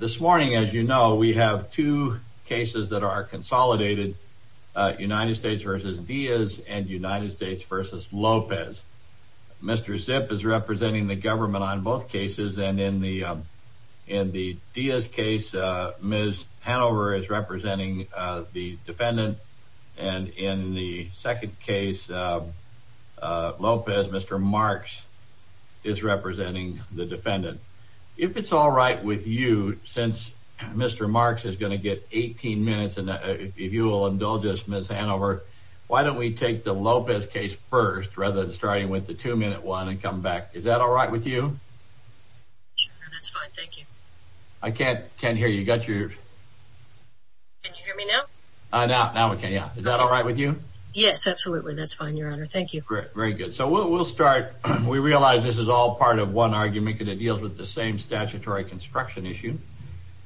this morning as you know we have two cases that are consolidated United States versus Diaz and United States versus Lopez. Mr. Zipp is representing the government on both cases and in the in the Diaz case Ms. Hanover is representing the defendant and in the second case Lopez Mr. Marx is all right with you since Mr. Marx is going to get 18 minutes and if you will indulge us Ms. Hanover why don't we take the Lopez case first rather than starting with the two-minute one and come back is that all right with you I can't can't hear you got yours I know now we can yeah is that all right with you yes absolutely that's fine your honor thank you very good so we'll start we realize this is all part of one argument and it deals with the same statutory construction issue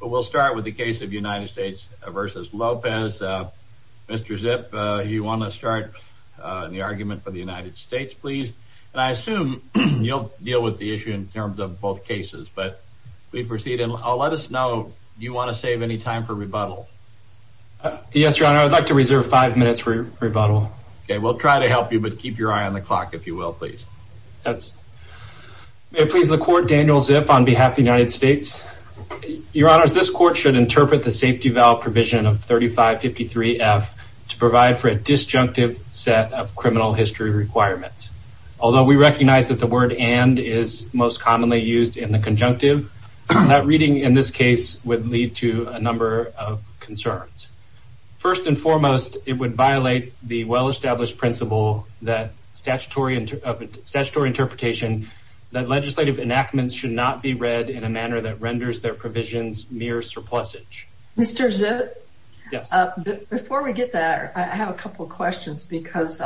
but we'll start with the case of United States versus Lopez Mr. Zipp you want to start the argument for the United States please and I assume you'll deal with the issue in terms of both cases but we proceed and I'll let us know you want to save any time for rebuttal yes your honor I'd like to reserve five minutes for your rebuttal okay we'll try to help you but keep your eye on the clock if you will please that's please the court Daniel Zipp on behalf the United States your honors this court should interpret the safety valve provision of 3553 F to provide for a disjunctive set of criminal history requirements although we recognize that the word and is most commonly used in the conjunctive that reading in this case would lead to a number of concerns first and foremost it would violate the well-established principle that statutory and statutory interpretation that legislative enactments should not be read in a manner that renders their provisions mere surplusage mr. Zipp before we get that I have a couple questions because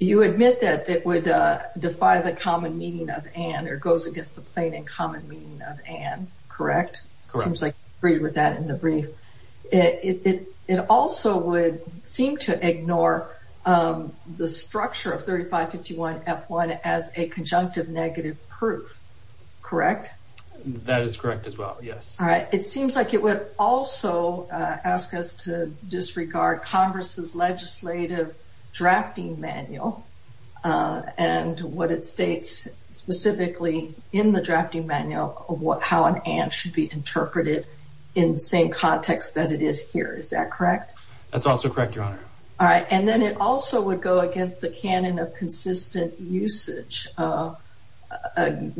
you admit that it would defy the common meaning of and or goes against the plain and common meaning of and correct it seems like agreed with that in the brief it it also would seem to ignore the structure of 3551 f1 as a conjunctive negative proof correct that is correct as well yes all right it seems like it would also ask us to disregard Congress's legislative drafting manual and what it states specifically in the drafting manual of what how an ant should be interpreted in the same context that it is here is that correct that's also correct your honor all right and then it also would go against the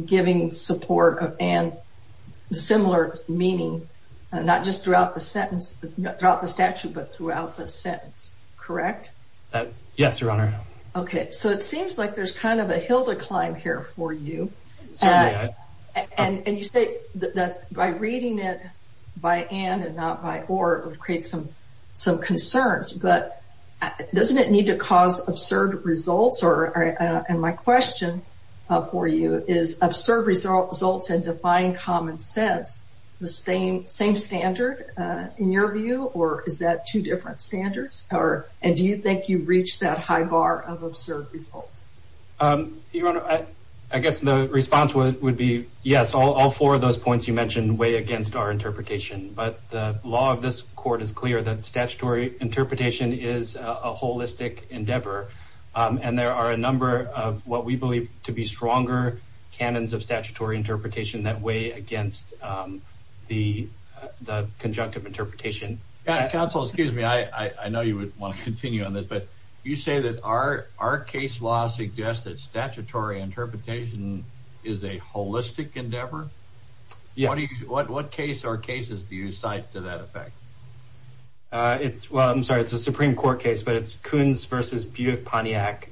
giving support of and similar meaning not just throughout the sentence throughout the statute but throughout the sentence correct yes your honor okay so it seems like there's kind of a hill to climb here for you and you say that by reading it by and and not by or create some some concerns but doesn't it need to cause absurd results or and my question for you is absurd results and defying common sense the same same standard in your view or is that two different standards or and do you think you've reached that high bar of absurd results I guess the response would be yes all four of those points you mentioned way against our interpretation but the law of this court is clear that holistic endeavor and there are a number of what we believe to be stronger canons of statutory interpretation that way against the the conjunctive interpretation counsel excuse me I I know you would want to continue on this but you say that our our case law suggests that statutory interpretation is a holistic endeavor yes what what case or cases do you cite to that effect it's well I'm sorry it's a Supreme Court case but it's Coons versus Buick Pontiac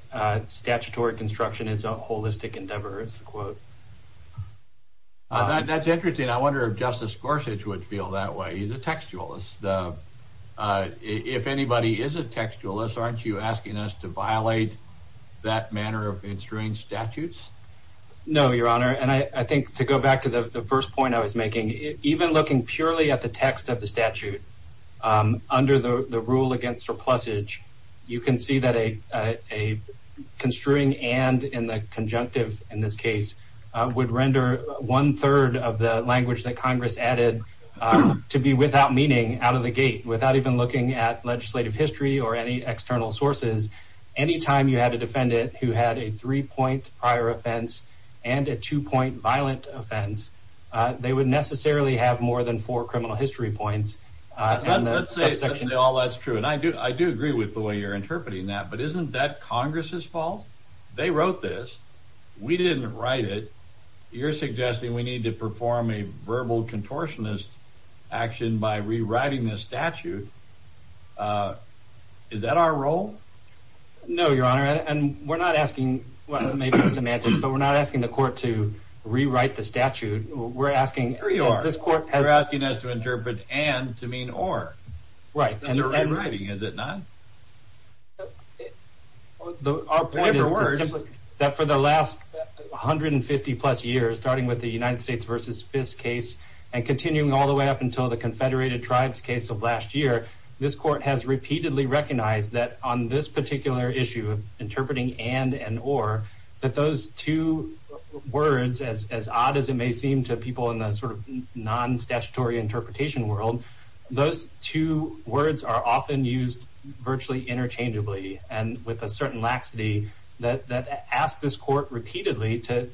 statutory construction is a holistic endeavor it's the quote that's interesting I wonder if Justice Gorsuch would feel that way he's a textualist if anybody is a textualist aren't you asking us to violate that manner of ensuring statutes no your honor and I think to go back to the first point I was making even looking purely at the text of the statute under the rule against surplus age you can see that a construing and in the conjunctive in this case would render one-third of the language that Congress added to be without meaning out of the gate without even looking at legislative history or any external sources anytime you had to defend it who had a three-point prior and a two-point violent offense they would necessarily have more than four criminal history points and all that's true and I do I do agree with the way you're interpreting that but isn't that Congress's fault they wrote this we didn't write it you're suggesting we need to perform a verbal contortionist action by rewriting this statute is that our role no your honor and we're not asking but we're not asking the court to rewrite the statute we're asking this court has asking us to interpret and to mean or right and they're writing is it not that for the last 150 plus years starting with the United States versus this case and continuing all the way up until the Confederated Tribes case of last year this court has repeatedly recognized that on this issue of interpreting and and or that those two words as odd as it may seem to people in the sort of non statutory interpretation world those two words are often used virtually interchangeably and with a certain laxity that asked this court repeatedly to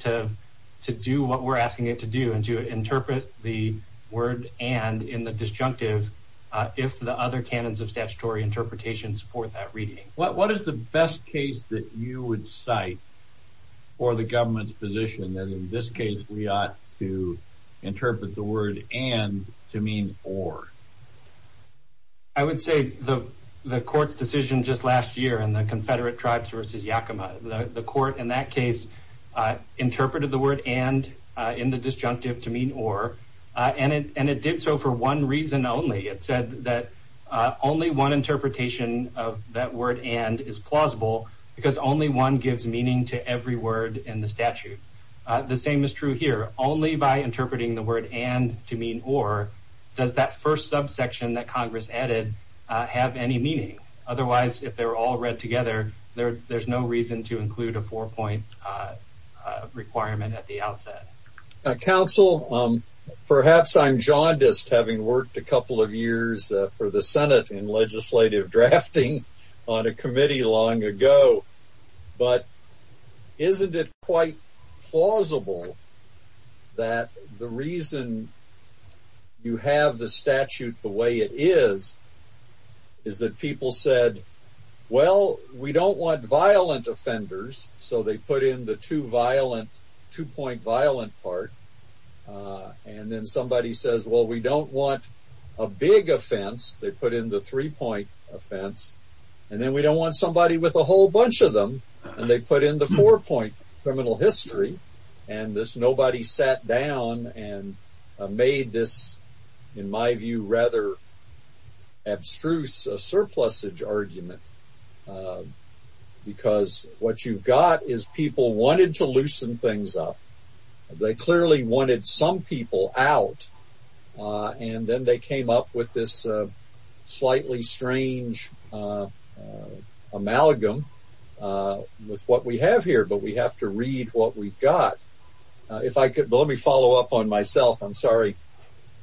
to do what we're asking it to do and to interpret the word and in the disjunctive if the other canons of statutory interpretation support that reading what what is the best case that you would cite or the government's position that in this case we ought to interpret the word and to mean or I would say the the court's decision just last year and the Confederate tribes versus Yakima the court in that case interpreted the word and in the disjunctive to mean or and it and it did so for one reason only it that word and is plausible because only one gives meaning to every word in the statute the same is true here only by interpreting the word and to mean or does that first subsection that Congress added have any meaning otherwise if they're all read together there there's no reason to include a four-point requirement at the outset council perhaps I'm jaundiced having worked a on a committee long ago but isn't it quite plausible that the reason you have the statute the way it is is that people said well we don't want violent offenders so they put in the two violent two-point violent part and then somebody says well we don't want a big offense they put in the three-point offense and then we don't want somebody with a whole bunch of them and they put in the four-point criminal history and this nobody sat down and made this in my view rather abstruse a surplus age argument because what you've got is people wanted to loosen things up they clearly wanted some people out and then they came up with this slightly strange amalgam with what we have here but we have to read what we've got if I could let me follow up on myself I'm sorry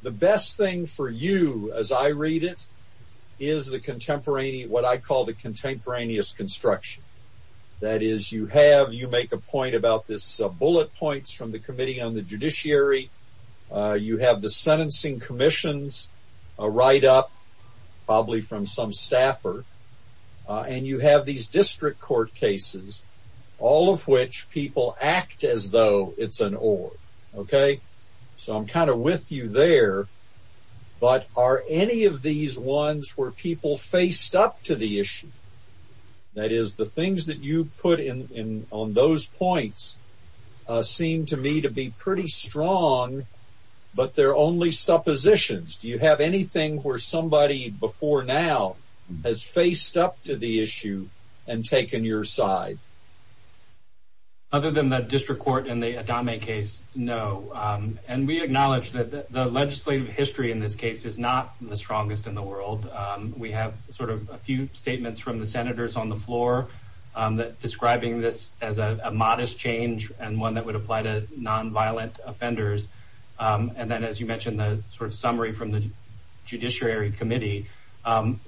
the best thing for you as I read it is the contemporaneity what I call the bullet points from the committee on the judiciary you have the sentencing commissions a write-up probably from some staffer and you have these district court cases all of which people act as though it's an old okay so I'm kind of with you there but are any of these ones were people faced up to the issue that is the things that you put in on those points seem to me to be pretty strong but they're only suppositions do you have anything where somebody before now has faced up to the issue and taken your side other than that district court in the atomic case no and we acknowledge that the legislative history in this case is not the strongest in the world we have a few statements from the senators on the floor that describing this as a modest change and one that would apply to nonviolent offenders and then as you mentioned the sort of summary from the Judiciary Committee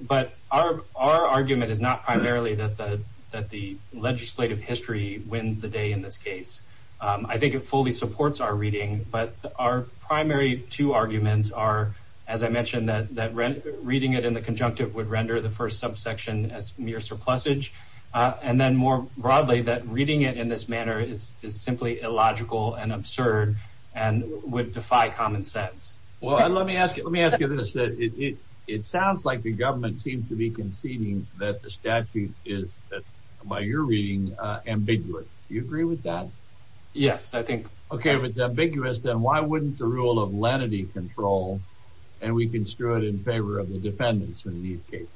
but our argument is not primarily that the that the legislative history wins the day in this case I think it fully supports our reading but our primary two arguments are as I mentioned that that read reading it in the conjunctive would render the first subsection as mere surplus age and then more broadly that reading it in this manner is simply illogical and absurd and would defy common sense well let me ask you let me ask you this that it it sounds like the government seems to be conceding that the statute is by your reading ambiguous you agree with that yes I think okay with the ambiguous then why wouldn't the rule of lenity control and we can screw it in favor of the defendants in these cases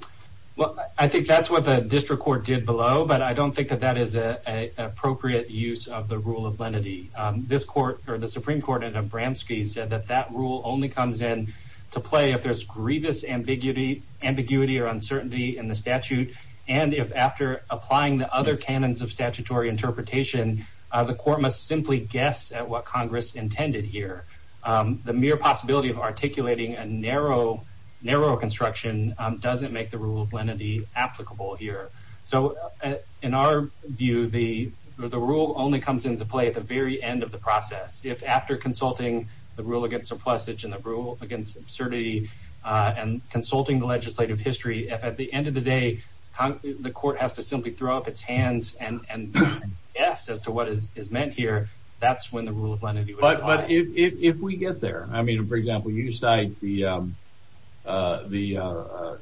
well I think that's what the district court did below but I don't think that that is a appropriate use of the rule of lenity this court or the Supreme Court in a Bramski said that that rule only comes in to play if there's grievous ambiguity ambiguity or uncertainty in the statute and if after applying the other canons of statutory interpretation the court must simply guess at what Congress intended here the mere possibility of articulating a narrow narrow construction doesn't make the rule of lenity applicable here so in our view the the rule only comes into play at the very end of the process if after consulting the rule against surplus itch and the rule against absurdity and consulting the legislative history if at the end of the day the court has to simply throw up its hands and and yes as to what is meant here that's when the rule of lenity but but if we get there I mean for example you cite the the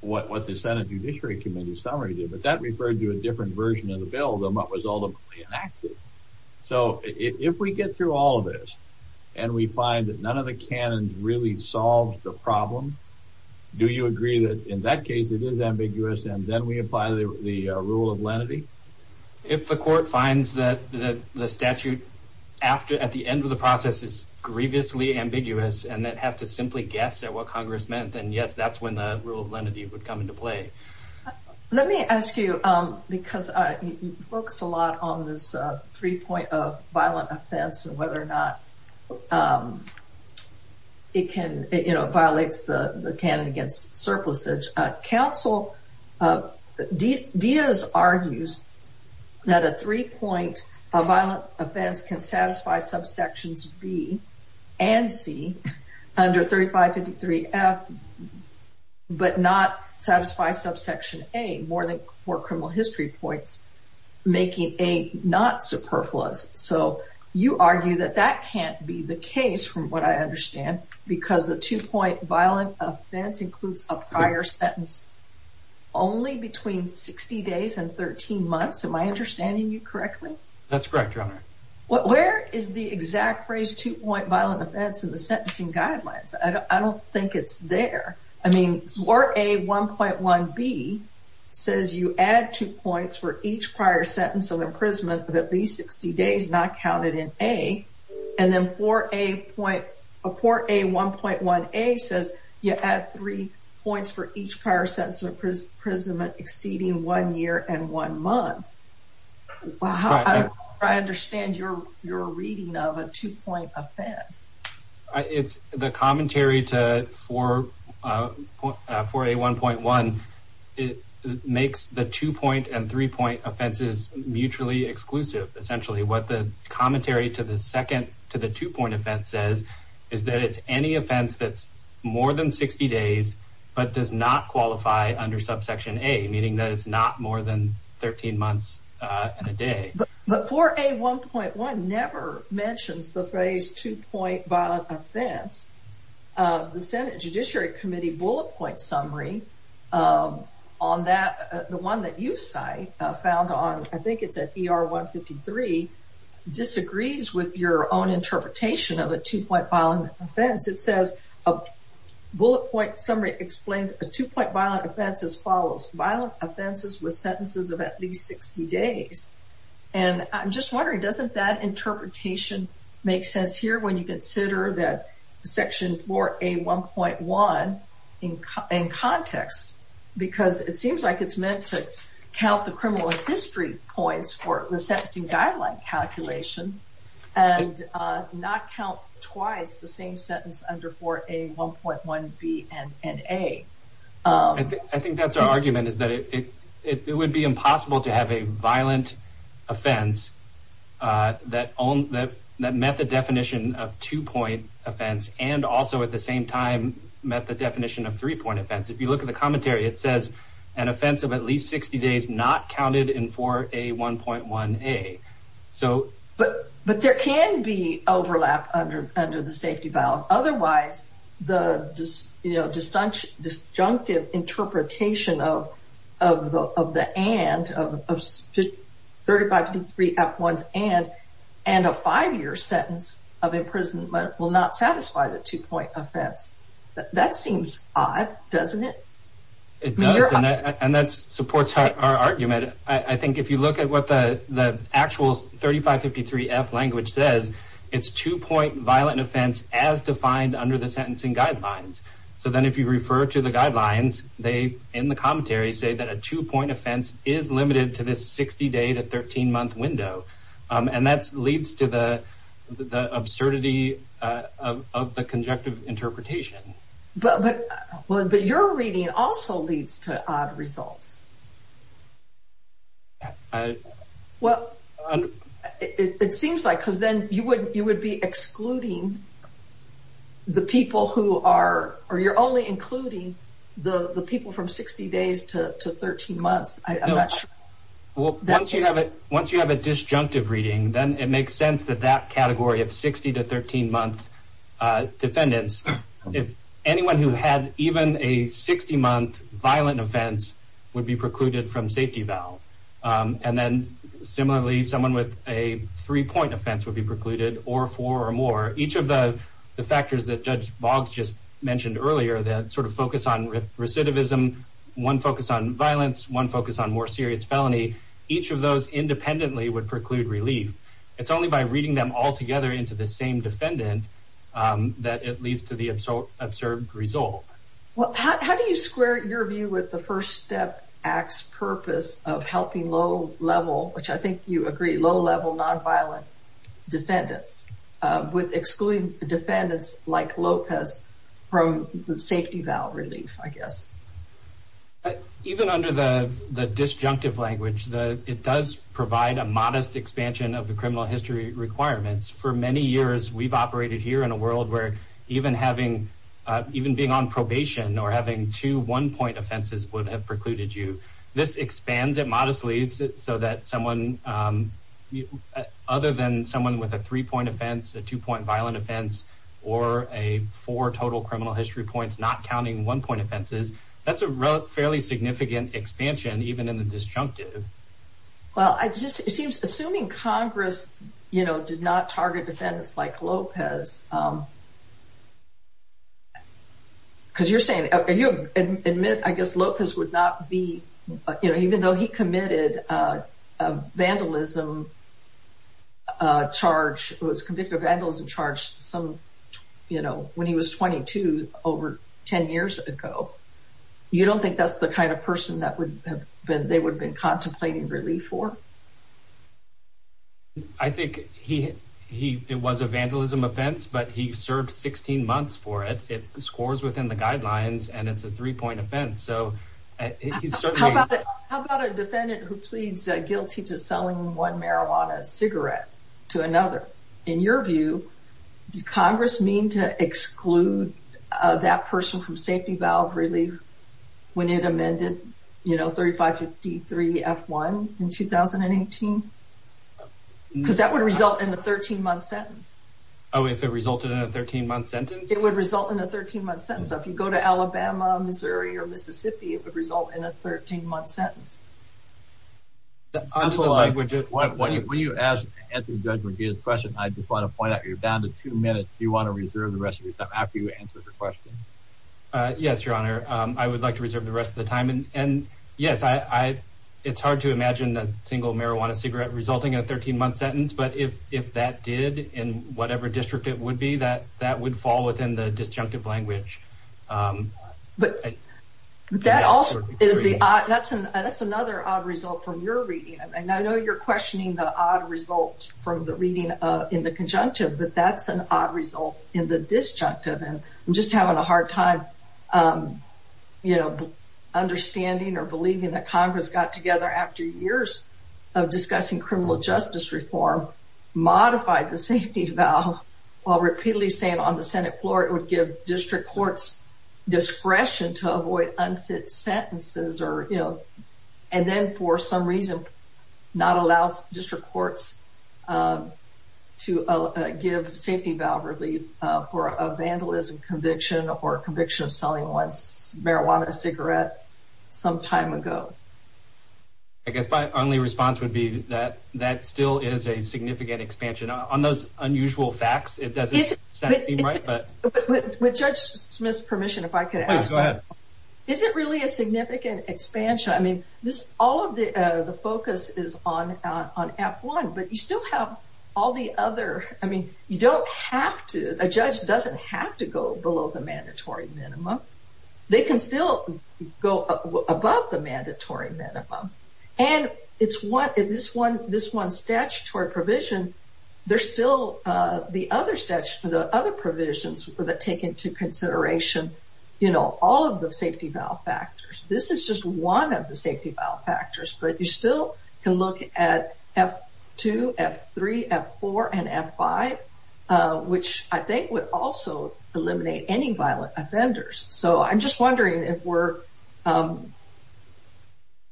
what the Senate Judiciary Committee summary did but that referred to a different version of the bill them up was all the enacted so if we get through all of this and we find that none of the canons really solved the problem do you agree that in that case it is ambiguous and then we apply the rule of lenity if the court finds that the statute after at the end of the process is grievously ambiguous and that has to simply guess at what Congress meant and yes that's when the rule of lenity would come into play let me ask you because I focus a lot on this three point of violent offense and whether or not it can you know violates the the cannon against surplus edge council of ideas argues that a three-point a violent offense can satisfy subsections B and C under 3553 F but not satisfy subsection a more than four criminal history points making a not superfluous so you argue that that can't be the case from what I understand because the two-point violent offense includes a prior sentence only between 60 days and 13 months of my understanding you correctly that's correct what where is the exact phrase to point violent offense in the sentencing guidelines I don't think it's there I mean or a 1.1 B says you add two points for each prior sentence of imprisonment of at least 60 days not counted in a and then for a point a 1.1 a says you add three points for each prior sentence of imprisonment exceeding one year and one month I understand your your reading of a two-point offense it's the commentary to for for a 1.1 it makes the two-point and three-point offenses mutually exclusive essentially what the any offense that's more than 60 days but does not qualify under subsection a meaning that it's not more than 13 months in a day but for a 1.1 never mentions the phrase two-point violent offense the Senate Judiciary Committee bullet point summary on that the one that you cite found on I think it's at PR 153 disagrees with your own interpretation of a two-point violent offense it says a bullet point summary explains a two-point violent offense as follows violent offenses with sentences of at least 60 days and I'm just wondering doesn't that interpretation make sense here when you consider that section for a 1.1 in context because it seems like it's meant to count the sentencing guideline calculation and not count twice the same sentence under for a 1.1 B and N a I think that's our argument is that it would be impossible to have a violent offense that only that method definition of two-point offense and also at the same time met the definition of three-point offense if you look at the commentary it says an offense of at least 60 days not counted in for a 1.1 a so but but there can be overlap under under the safety valve otherwise the just you know just hunched disjunctive interpretation of of the of the and of 35 to 3 f1s and and a five-year sentence of imprisonment will not satisfy the two-point offense that seems odd doesn't it and that supports our argument I think if you look at what the the actual 35 53 F language says it's two-point violent offense as defined under the sentencing guidelines so then if you refer to the guidelines they in the commentary say that a two-point offense is limited to this 60 day to 13 month window and that's leads to the absurdity of the conjunctive interpretation but well but you're reading also leads to odd results well it seems like because then you would you would be excluding the people who are or you're only including the the people from 60 days to 13 months I'm not sure well once you have it once you have a disjunctive reading then it makes sense that that category of 60 to 13 month defendants if anyone who had even a 60-month violent offense would be precluded from safety valve and then similarly someone with a three-point offense would be precluded or four or more each of the the factors that Judge Boggs just mentioned earlier that sort of focus on recidivism one focus on violence one focus on more serious felony each of those independently would preclude relief it's only by reading them all together into the same defendant that it leads to the absurd result well how do you square your view with the first step acts purpose of helping low-level which I think you agree low-level nonviolent defendants with excluding defendants like Lopez from safety valve relief I guess even under the the disjunctive language that it does provide a modest expansion of the criminal history requirements for many years we've operated here in a world where even having even being on probation or having two one-point offenses would have precluded you this expands it modestly so that someone other than someone with a three-point offense a two-point violent offense or a for total criminal history points not counting one-point offenses that's a fairly significant expansion even in the defense like Lopez because you're saying admit I guess Lopez would not be you know even though he committed vandalism charge was convicted of vandalism charge some you know when he was 22 over 10 years ago you don't think that's the kind of person that would have been they would have been was a vandalism offense but he served 16 months for it it scores within the guidelines and it's a three-point offense so please guilty to selling one marijuana cigarette to another in your view Congress mean to exclude that person from safety valve relief when it amended you know 3553 f1 in 2018 because that would result in a 13-month sentence oh if it resulted in a 13-month sentence it would result in a 13-month sentence if you go to Alabama Missouri or Mississippi it would result in a 13-month sentence I'm so I would just what what if we you asked at the judge would be his question I just want to point out you're down to two minutes do you want to reserve the rest of your time after you answer the question yes your honor I would like to reserve the rest of the time and and yes I it's hard to imagine that single marijuana cigarette resulting in a 13-month sentence but if if that did in whatever district it would be that that would fall within the disjunctive language but that also is the that's an that's another odd result from your reading and I know you're questioning the odd result from the reading in the conjunctive but that's an odd result in the disjunctive and I'm just having a hard time you know understanding or believing that Congress got together after years of discussing criminal justice reform modified the safety valve while repeatedly saying on the Senate floor it would give district courts discretion to avoid unfit sentences or you know and then for some reason not allows district courts to give safety valve relief for a vandalism conviction or conviction of selling once cigarette some time ago I guess my only response would be that that still is a significant expansion on those unusual facts it doesn't seem right but with judge Smith's permission if I could go ahead is it really a significant expansion I mean this all of the focus is on on f1 but you still have all the other I mean you don't have to a judge doesn't have to go below the mandatory minimum they can still go above the mandatory minimum and it's what is this one this one statutory provision they're still the other steps for the other provisions that take into consideration you know all of the safety valve factors this is just one of the safety valve factors but you still can look at f2 f3 f4 and f5 which I think would also eliminate any violent offenders so I'm just wondering if we're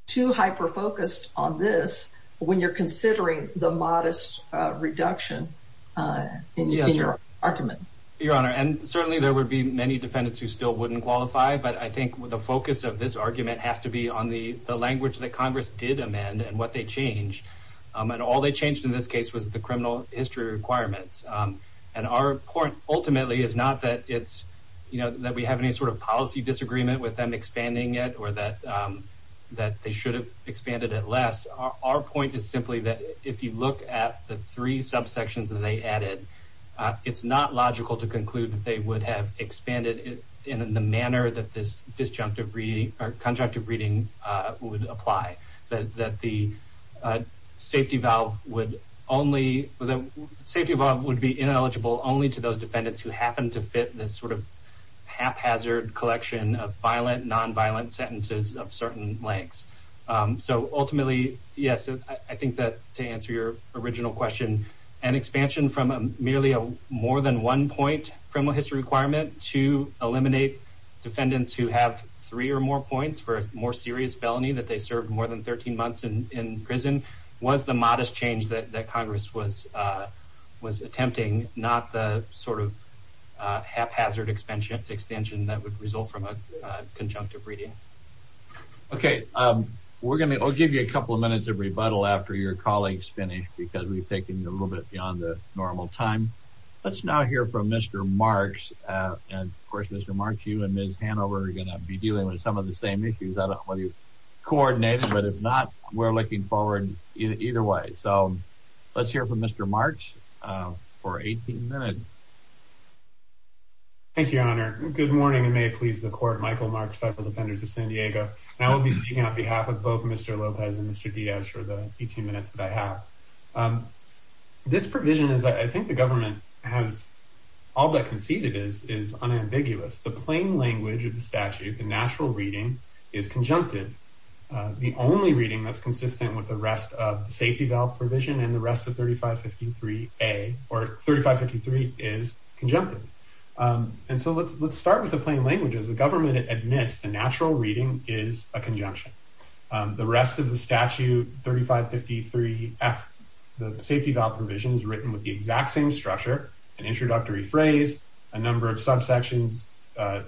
too hyper focused on this when you're considering the modest reduction in your argument your honor and certainly there would be many defendants who still wouldn't qualify but I think with the focus of this argument has to be on the language that Congress did amend and what they changed and all they changed in this case was the criminal history requirements and our point ultimately is not that it's you know that we have any sort of policy disagreement with them expanding it or that that they should have expanded it less our point is simply that if you look at the three subsections that they added it's not logical to conclude that they would have expanded it in the manner that this disjunctive reading or conjunctive reading would apply that the safety valve would only the safety valve would be ineligible only to those defendants who happen to fit this sort of haphazard collection of violent nonviolent sentences of certain lengths so ultimately yes I think that to answer your original question an expansion from a merely a more than one point criminal history requirement to eliminate defendants who have three or more points for a more serious felony that they served more than 13 months in prison was the modest change that Congress was was attempting not the sort of haphazard expansion extension that would result from a conjunctive reading okay we're gonna give you a couple of minutes of rebuttal after your colleagues finish because we've taken a little bit beyond the normal time let's now hear from mr. Marx and of course mr. mark you and mrs. Hanover are gonna be dealing with some of the same issues I don't want you coordinated but if not we're looking forward in either way so let's hear from mr. Marx for 18 minutes thank you your honor good morning and may it please the court Michael Marx federal defendants of San Diego and I will be speaking on behalf of both mr. Lopez and mr. Diaz for the 18 minutes that I have this provision is I think the government has all that conceded is is unambiguous the plain language of the statute the natural reading is conjunctive the only reading that's consistent with the rest of the safety valve provision and the rest of 3553 a or 3553 is conjunctive and so let's let's start with the plain language as the government admits the natural reading is a conjunction the rest of the statute 3553 F the safety valve provisions written with the exact same structure an introductory phrase a number of subsections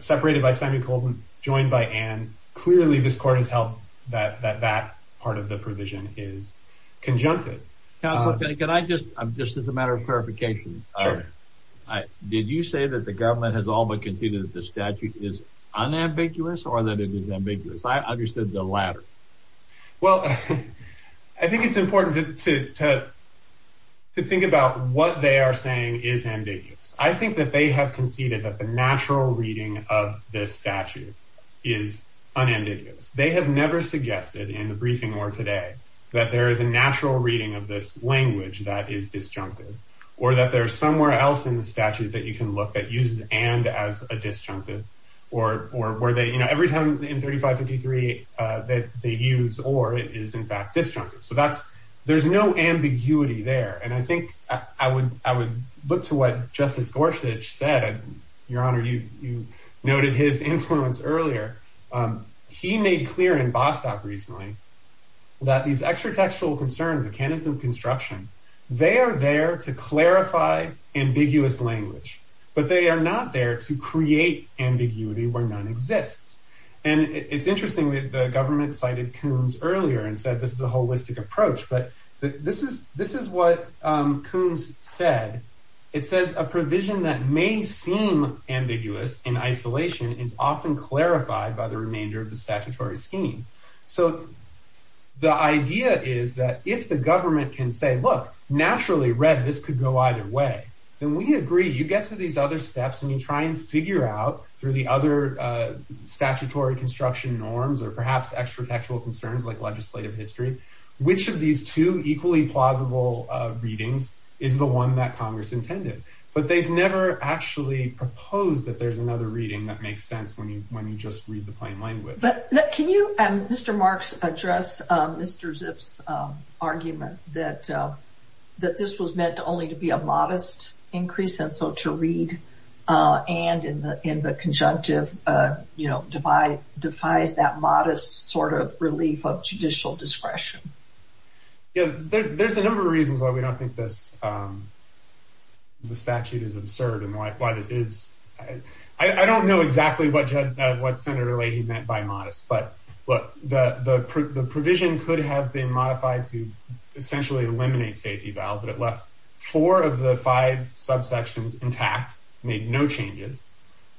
separated by semi-colton joined by and clearly this court has helped that that part of the provision is conjunctive can I just I'm just as a matter of clarification I did you say that the government has all but conceded that the statute is unambiguous ambiguous I understood the latter well I think it's important to think about what they are saying is ambiguous I think that they have conceded that the natural reading of this statute is unambiguous they have never suggested in the briefing or today that there is a natural reading of this language that is disjunctive or that there's somewhere else in the statute that you can look at and as a disjunctive or or were they you know every time in 3553 that they use or it is in fact disjunctive so that's there's no ambiguity there and I think I would I would look to what justice Gorsuch said your honor you noted his influence earlier he made clear in Bostock recently that these extra textual concerns the canons of construction they are there to clarify ambiguous language but they are not there to create ambiguity where none exists and it's interesting with the government cited Coons earlier and said this is a holistic approach but this is this is what Coons said it says a provision that may seem ambiguous in isolation is often clarified by the remainder of the statutory scheme so the idea is that if the government can say naturally read this could go either way then we agree you get to these other steps and you try and figure out through the other statutory construction norms or perhaps extra textual concerns like legislative history which of these two equally plausible readings is the one that Congress intended but they've never actually proposed that there's another reading that makes sense when you when you just read the plain language but can you mr. Marx address mr. zips argument that that this was meant only to be a modest increase and so to read and in the in the conjunctive you know divide defies that modest sort of relief of judicial discretion yeah there's a number of reasons why we don't think this the statute is absurd and why this is I don't know exactly what what senator lady meant by modest but look the the provision could have been modified to essentially eliminate safety valve but it left four of the five subsections intact made no changes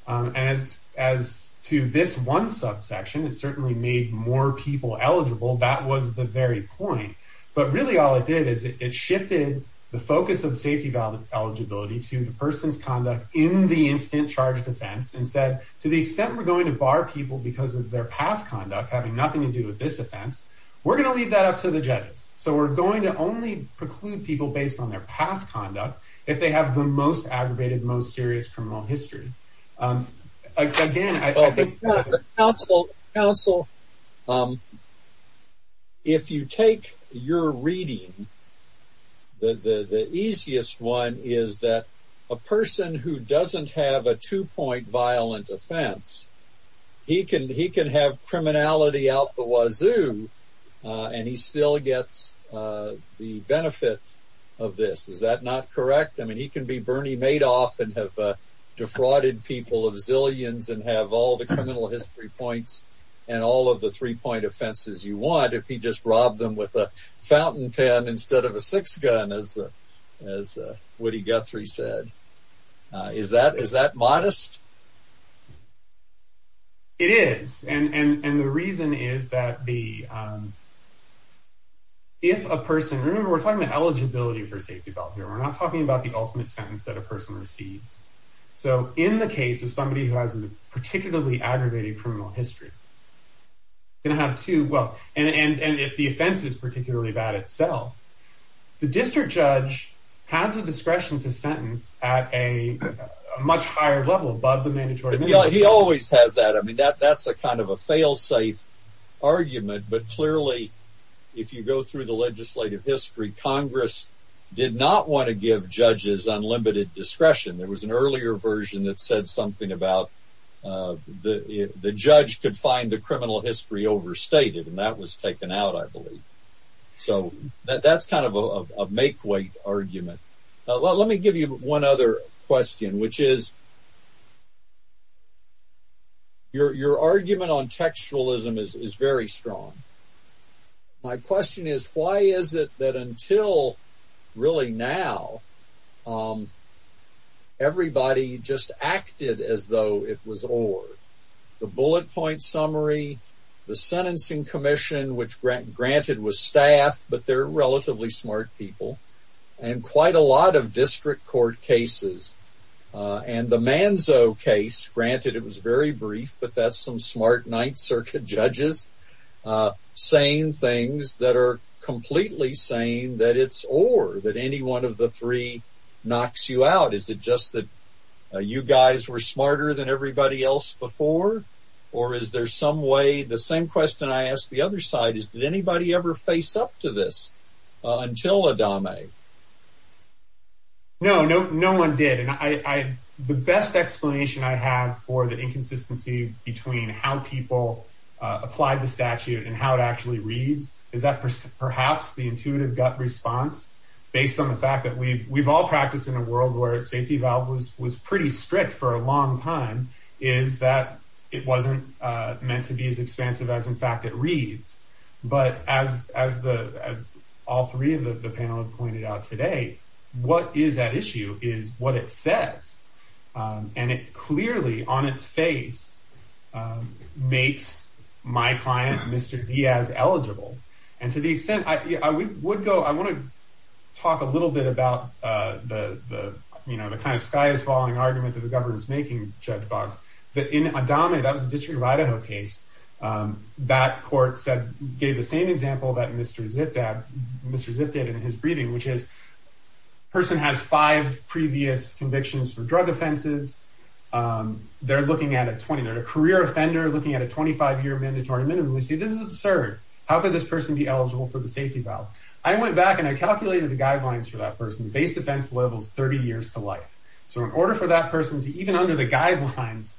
as as to this one subsection it certainly made more people eligible that was the very point but really all it did is it shifted the focus of safety valve eligibility to the person's conduct in the instant charge defense and said to the extent we're going to bar people because of their past conduct having nothing to do with this offense we're so we're going to only preclude people based on their past conduct if they have the most aggravated most serious criminal history again I think counsel counsel if you take your reading the the easiest one is that a person who doesn't have a two-point violent offense he can he can have criminality out the wazoo and he still gets the benefit of this is that not correct I mean he can be Bernie Madoff and have defrauded people of zillions and have all the criminal history points and all of the three-point offenses you want if he just robbed them with a fountain pen instead of a six gun as as Woody Guthrie said is that is that modest it is and and and the reason is that the if a person remember we're talking about eligibility for safety valve here we're not talking about the ultimate sentence that a person receives so in the case of somebody who has a particularly aggravated criminal history and have to well and and and if the offense is particularly about itself the district has a discretion to sentence at a much higher level above the mandatory he always has that I mean that that's a kind of a failsafe argument but clearly if you go through the legislative history Congress did not want to give judges unlimited discretion there was an earlier version that said something about the the judge could find the criminal history overstated and that was taken out I believe so that's kind of a make way argument let me give you one other question which is your argument on textualism is very strong my question is why is it that until really now everybody just acted as though it was the bullet point summary the sentencing commission which grant granted with staff but they're relatively smart people and quite a lot of district court cases and the man so case granted it was very brief but that's some smart night circuit judges saying things that are completely saying that it's or that any one of the three knocks you out is it just that you guys were smarter than everybody else before or is there some way the same question I asked the other side is did anybody ever face up to this until Adama no no no one did and I the best explanation I have for the inconsistency between how people apply the statute and how it actually reads is that person perhaps the intuitive gut response based on the fact that we've we've all practiced in a world where it was was pretty strict for a long time is that it wasn't meant to be as expensive as in fact it reads but as as the as all three of the panel have pointed out today what is that issue is what it says and it clearly on its face makes my client mr. Diaz eligible and to the extent I would go I want to talk a you know the kind of sky is falling argument of the government's making judge box that in a dominant of the district of Idaho case that court said gave the same example that mr. zip dab mr. zip did in his breathing which is person has five previous convictions for drug offenses they're looking at a 20 they're a career offender looking at a 25-year mandatory minimum we see this is absurd how could this person be eligible for the safety valve I went back and I 30 years to life so in order for that person to even under the guidelines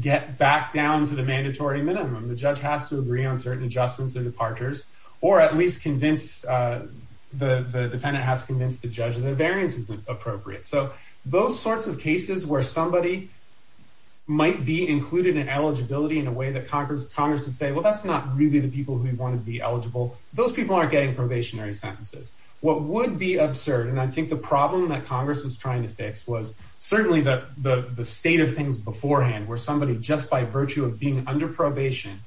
get back down to the mandatory minimum the judge has to agree on certain adjustments and departures or at least convince the defendant has convinced the judge the variance isn't appropriate so those sorts of cases where somebody might be included in eligibility in a way that Congress Congress would say well that's not really the people who want to be eligible those people aren't getting probationary sentences what would be absurd and I think the problem that Congress was trying to fix was certainly that the the state of things beforehand where somebody just by virtue of being under probation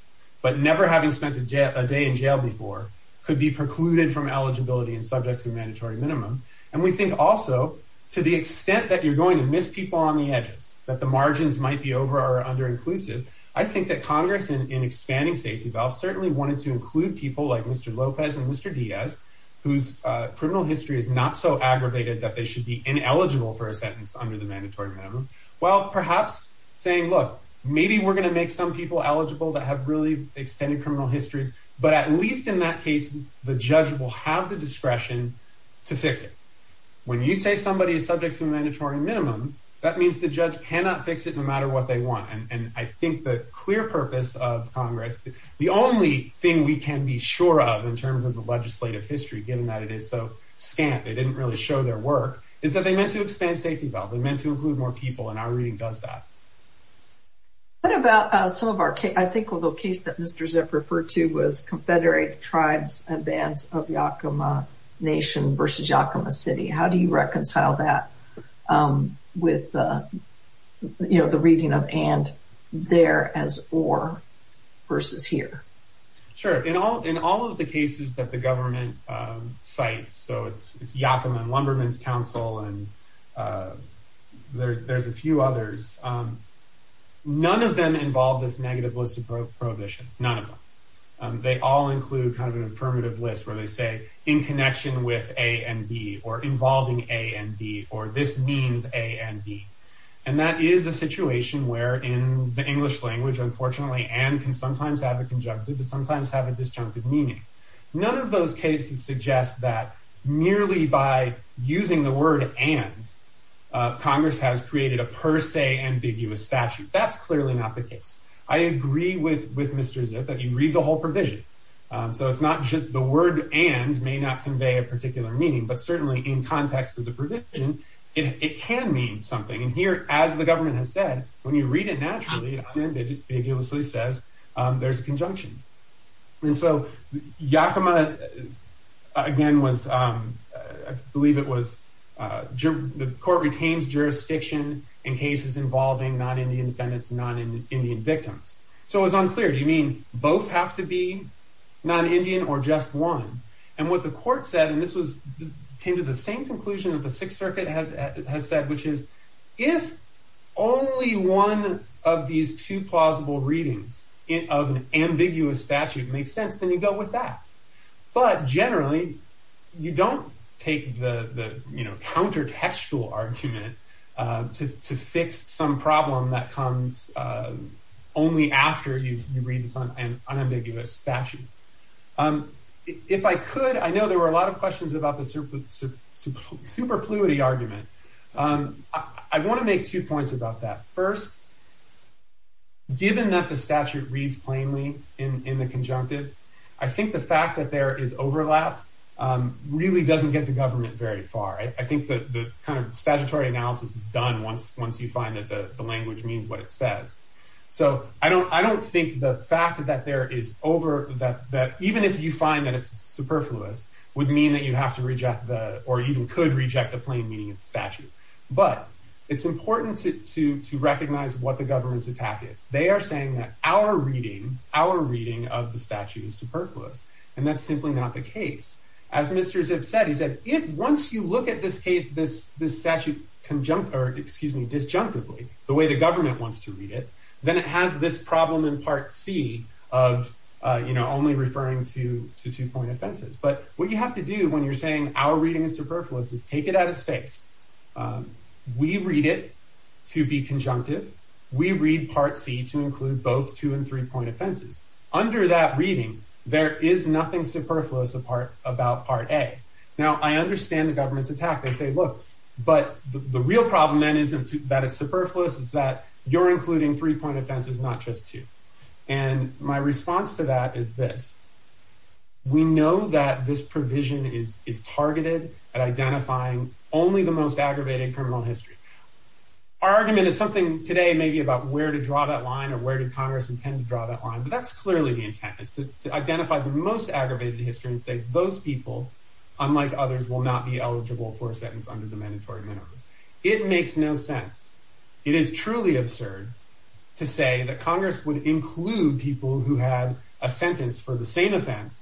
but never having spent a day in jail before could be precluded from eligibility and subject to mandatory minimum and we think also to the extent that you're going to miss people on the edges that the margins might be over or under inclusive I think that Congress in expanding safety valve certainly wanted to include people like mr. Lopez and mr. Diaz whose criminal history is not so should be ineligible for a sentence under the mandatory well perhaps saying look maybe we're gonna make some people eligible that have really extended criminal histories but at least in that case the judge will have the discretion to fix it when you say somebody is subject to a mandatory minimum that means the judge cannot fix it no matter what they want and I think the clear purpose of Congress the only thing we can be sure of in terms of the legislative history given that it is so scant they didn't really show their work is that they meant to expand safety valve they meant to include more people and our reading does that what about some of our case I think although case that mr. zip referred to was confederate tribes and bands of Yakima nation versus Yakima City how do you reconcile that with you know the reading of and there as or versus here sure in all in all of the cases that the government sites so it's Yakima and Wunderman's Council and there's a few others none of them involved this negative list of prohibitions none of them they all include kind of an affirmative list where they say in connection with a and B or involving a and B or this means a and B and that is a situation where in the English language unfortunately and can sometimes have a conjunctive but merely by using the word and Congress has created a per se ambiguous statute that's clearly not the case I agree with with mr. zip that you read the whole provision so it's not just the word and may not convey a particular meaning but certainly in context of the provision it can mean something and here as the government has said when you read it naturally it ambiguously says there's believe it was the court retains jurisdiction in cases involving not Indian defendants not in Indian victims so it was unclear do you mean both have to be non-indian or just one and what the court said and this was came to the same conclusion of the Sixth Circuit has said which is if only one of these two plausible readings in of an ambiguous statute makes sense then you go with that but generally you don't take the you know countertextual argument to fix some problem that comes only after you read this on an unambiguous statute if I could I know there were a lot of questions about the superfluity argument I want to make two points about that first given that the statute reads plainly in the conjunctive I think the fact that there is overlap really doesn't get the government very far I think that the statutory analysis is done once once you find that the language means what it says so I don't I don't think the fact that there is over that even if you find that it's superfluous would mean that you have to reject the or even could reject the plain meaning of statute but it's important to recognize what the reading our reading of the statute is superfluous and that's simply not the case as mr. Zipf said he said if once you look at this case this this statute conjunct or excuse me disjunctively the way the government wants to read it then it has this problem in part C of you know only referring to to two-point offenses but what you have to do when you're saying our reading is superfluous is take it out of space we read it to be conjunctive we read part C to include both two and three-point offenses under that reading there is nothing superfluous apart about part a now I understand the government's attack they say look but the real problem then isn't that it's superfluous is that you're including three-point offenses not just two and my response to that is this we know that this provision is is targeted at identifying only the most aggravating criminal history our argument is something today maybe about where to draw that line or where did Congress intend to draw that line but that's clearly the intent is to identify the most aggravated history and say those people unlike others will not be eligible for a sentence under the mandatory minimum it makes no sense it is truly absurd to say that Congress would include people who had a sentence for the same offense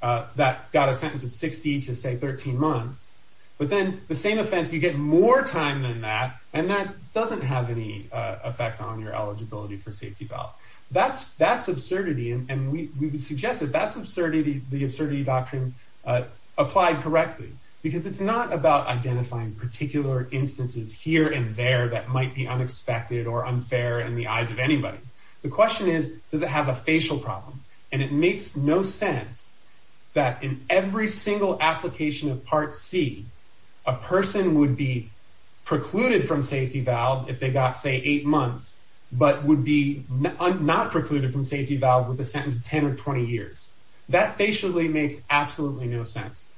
that got a sentence of 60 to say 13 months but then the same offense you get more time than that and that doesn't have any effect on your eligibility for safety belt that's that's absurdity and we suggest that that's absurdity the absurdity doctrine applied correctly because it's not about identifying particular instances here and there that might be unexpected or unfair in the eyes of anybody the question is does it have a facial problem and it makes no sense that in every single application of part C a person would be precluded from safety valve if they got say eight months but would be not precluded from safety valve with a sentence of 10 or 20 years that basically makes absolutely no sense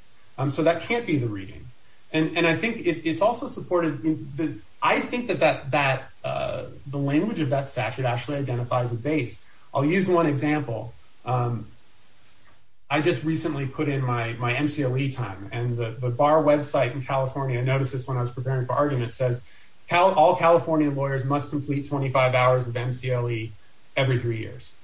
so that can't be the reading and and I think it's also supported I think that that that the language of that statute actually identifies a base I'll use one example I just recently put in my my MCLE time and the bar website in California notices when I was preparing for argument says how all California lawyers must complete 25 hours of MCLE every three years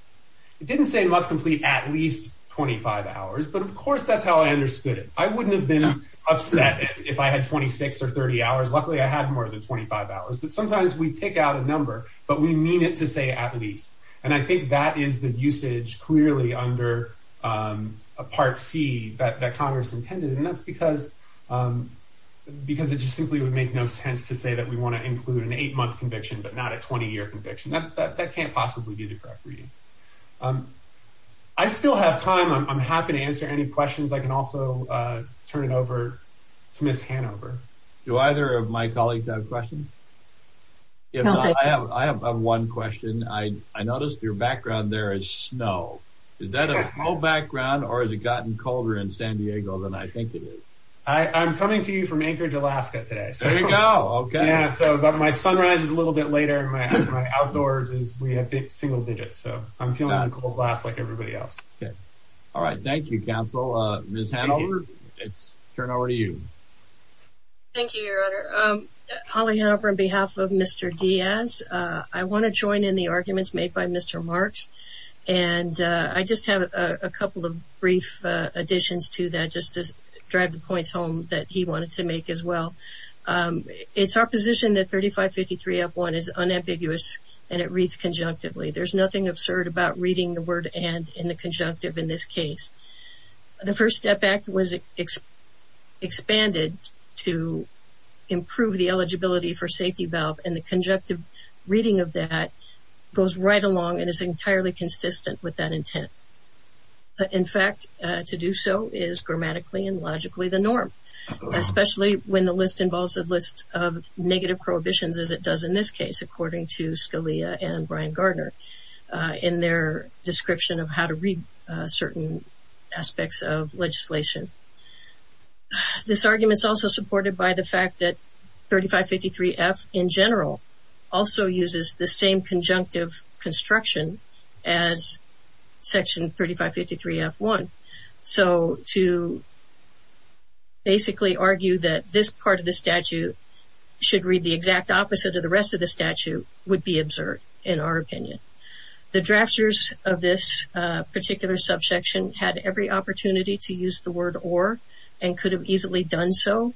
it didn't say must complete at least 25 hours but of course that's how I understood it I wouldn't have been upset if I had 26 or 30 hours luckily I had more than 25 hours but sometimes we pick out a number but we mean it to say at least and I think that is the usage clearly under a part C that that Congress intended and that's because because it just simply would make no sense to say that we want to include an eight-month conviction but not a 20-year conviction that can't possibly be the correct reading I still have time I'm happy to answer any questions I can also turn it over to miss Hanover do either of my colleagues I have one question I I noticed your background there is snow is that a background or has it gotten colder in San Diego than I think it is I I'm coming to you from Anchorage Alaska today so you know okay so but my sunrise is a little bit later my outdoors is we have big single digits so I'm feeling a little glass like everybody else okay all right thank you miss Hanover turn over to you thank you Holly however on behalf of mr. Diaz I want to join in the arguments made by mr. Marx and I just have a couple of brief additions to that just to drive the points home that he wanted to make as well it's our position that 3553 f1 is unambiguous and it reads conjunctively there's nothing absurd about reading the word and in the First Step Act was expanded to improve the eligibility for safety valve and the conjunctive reading of that goes right along and is entirely consistent with that intent in fact to do so is grammatically and logically the norm especially when the list involves a list of negative prohibitions as it does in this case according to Scalia and Brian Gardner in their description of how to aspects of legislation this argument is also supported by the fact that 3553 F in general also uses the same conjunctive construction as section 3553 f1 so to basically argue that this part of the statute should read the exact opposite of the rest of the statute would be absurd in our opinion the had every opportunity to use the word or and could have easily done so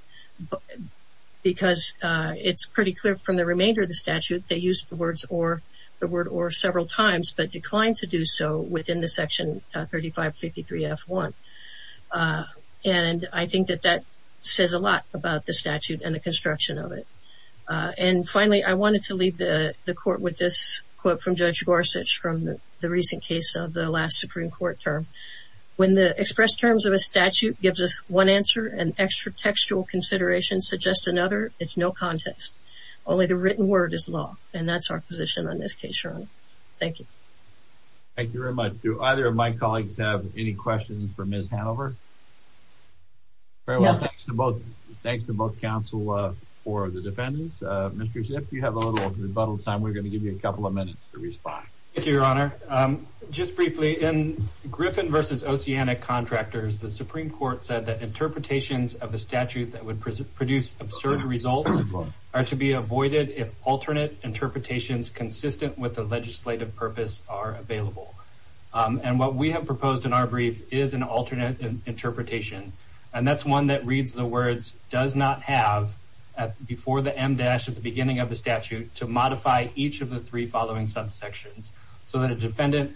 because it's pretty clear from the remainder of the statute they used the words or the word or several times but declined to do so within the section 3553 f1 and I think that that says a lot about the statute and the construction of it and finally I wanted to leave the the court with this quote from judge Gorsuch from the recent case of the last Supreme Court term when the expressed terms of a statute gives us one answer and extra textual consideration suggest another it's no context only the written word is law and that's our position on this case sure thank you thank you very much do either of my colleagues have any questions for ms. Hanover thanks to both thanks to both counsel for the defendants mr. ship you have a little rebuttal time we're going to give you a just briefly in Griffin versus Oceania contractors the Supreme Court said that interpretations of the statute that would produce absurd results are to be avoided if alternate interpretations consistent with the legislative purpose are available and what we have proposed in our brief is an alternate interpretation and that's one that reads the words does not have at before the M dash at the beginning of the statute to modify each of the three following subsections so that a defendant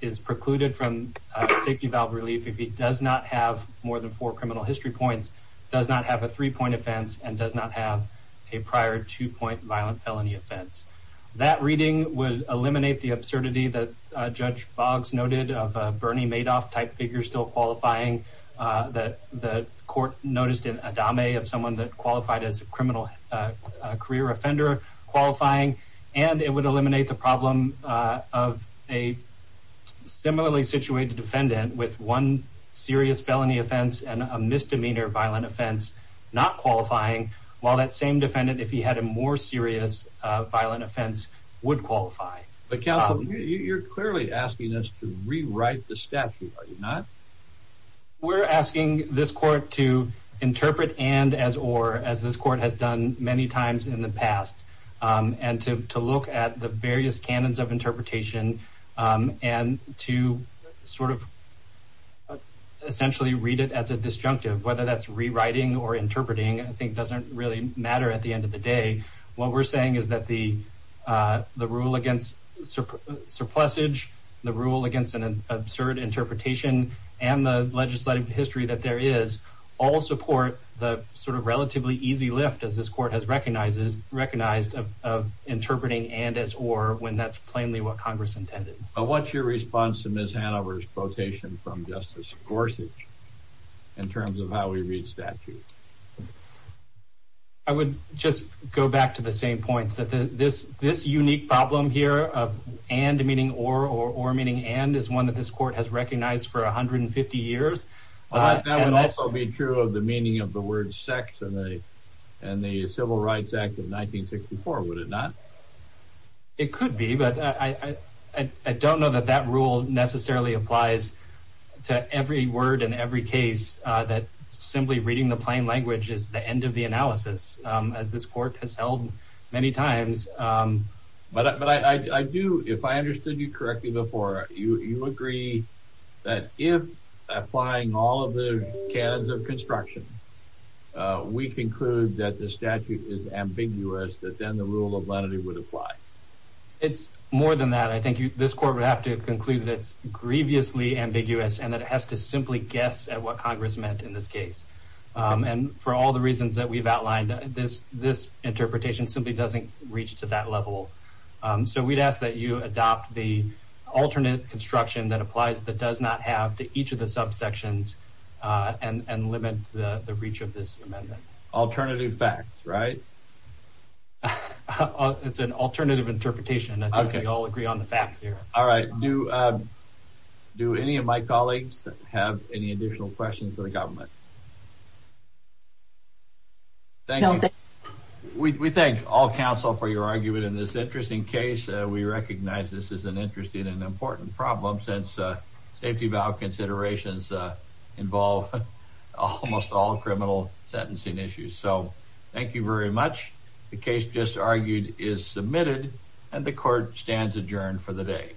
is precluded from safety valve relief if he does not have more than four criminal history points does not have a three point offense and does not have a prior two-point violent felony offense that reading would eliminate the absurdity that judge Boggs noted of Bernie Madoff type figure still qualifying that the court noticed in a domain of someone that qualified as a criminal career offender qualifying and it would eliminate the problem of a similarly situated defendant with one serious felony offense and a misdemeanor violent offense not qualifying while that same defendant if he had a more serious violent offense would qualify but counsel you're clearly asking us to rewrite the statute are you not we're asking this court to interpret and as or as this court has done many times in the various canons of interpretation and to sort of essentially read it as a disjunctive whether that's rewriting or interpreting I think doesn't really matter at the end of the day what we're saying is that the the rule against surplus age the rule against an absurd interpretation and the legislative history that there is all support the sort of relatively easy lift as this when that's plainly what Congress intended but what's your response to miss Hanover's quotation from Justice Gorsuch in terms of how we read statute I would just go back to the same points that this this unique problem here of and meaning or or or meaning and is one that this court has recognized for 150 years that would also be true of the meaning of the word sex and they and the Rights Act of 1964 would it not it could be but I don't know that that rule necessarily applies to every word in every case that simply reading the plain language is the end of the analysis as this court has held many times but I do if I understood you correctly before you you agree that if applying all of the construction we conclude that the statute is ambiguous that then the rule of lenity would apply it's more than that I think you this court would have to conclude that it's grievously ambiguous and that it has to simply guess at what Congress meant in this case and for all the reasons that we've outlined this this interpretation simply doesn't reach to that level so we'd ask that you adopt the alternate construction that applies that does not have to each of the subsections and and limit the reach of this amendment alternative facts right it's an alternative interpretation okay I'll agree on the facts here all right do do any of my colleagues have any additional questions for the government thank you we thank all counsel for your argument in this interesting case we recognize this is an interesting and important problem since safety valve considerations involve almost all criminal sentencing issues so thank you very much the case just argued is submitted and the court stands adjourned for the day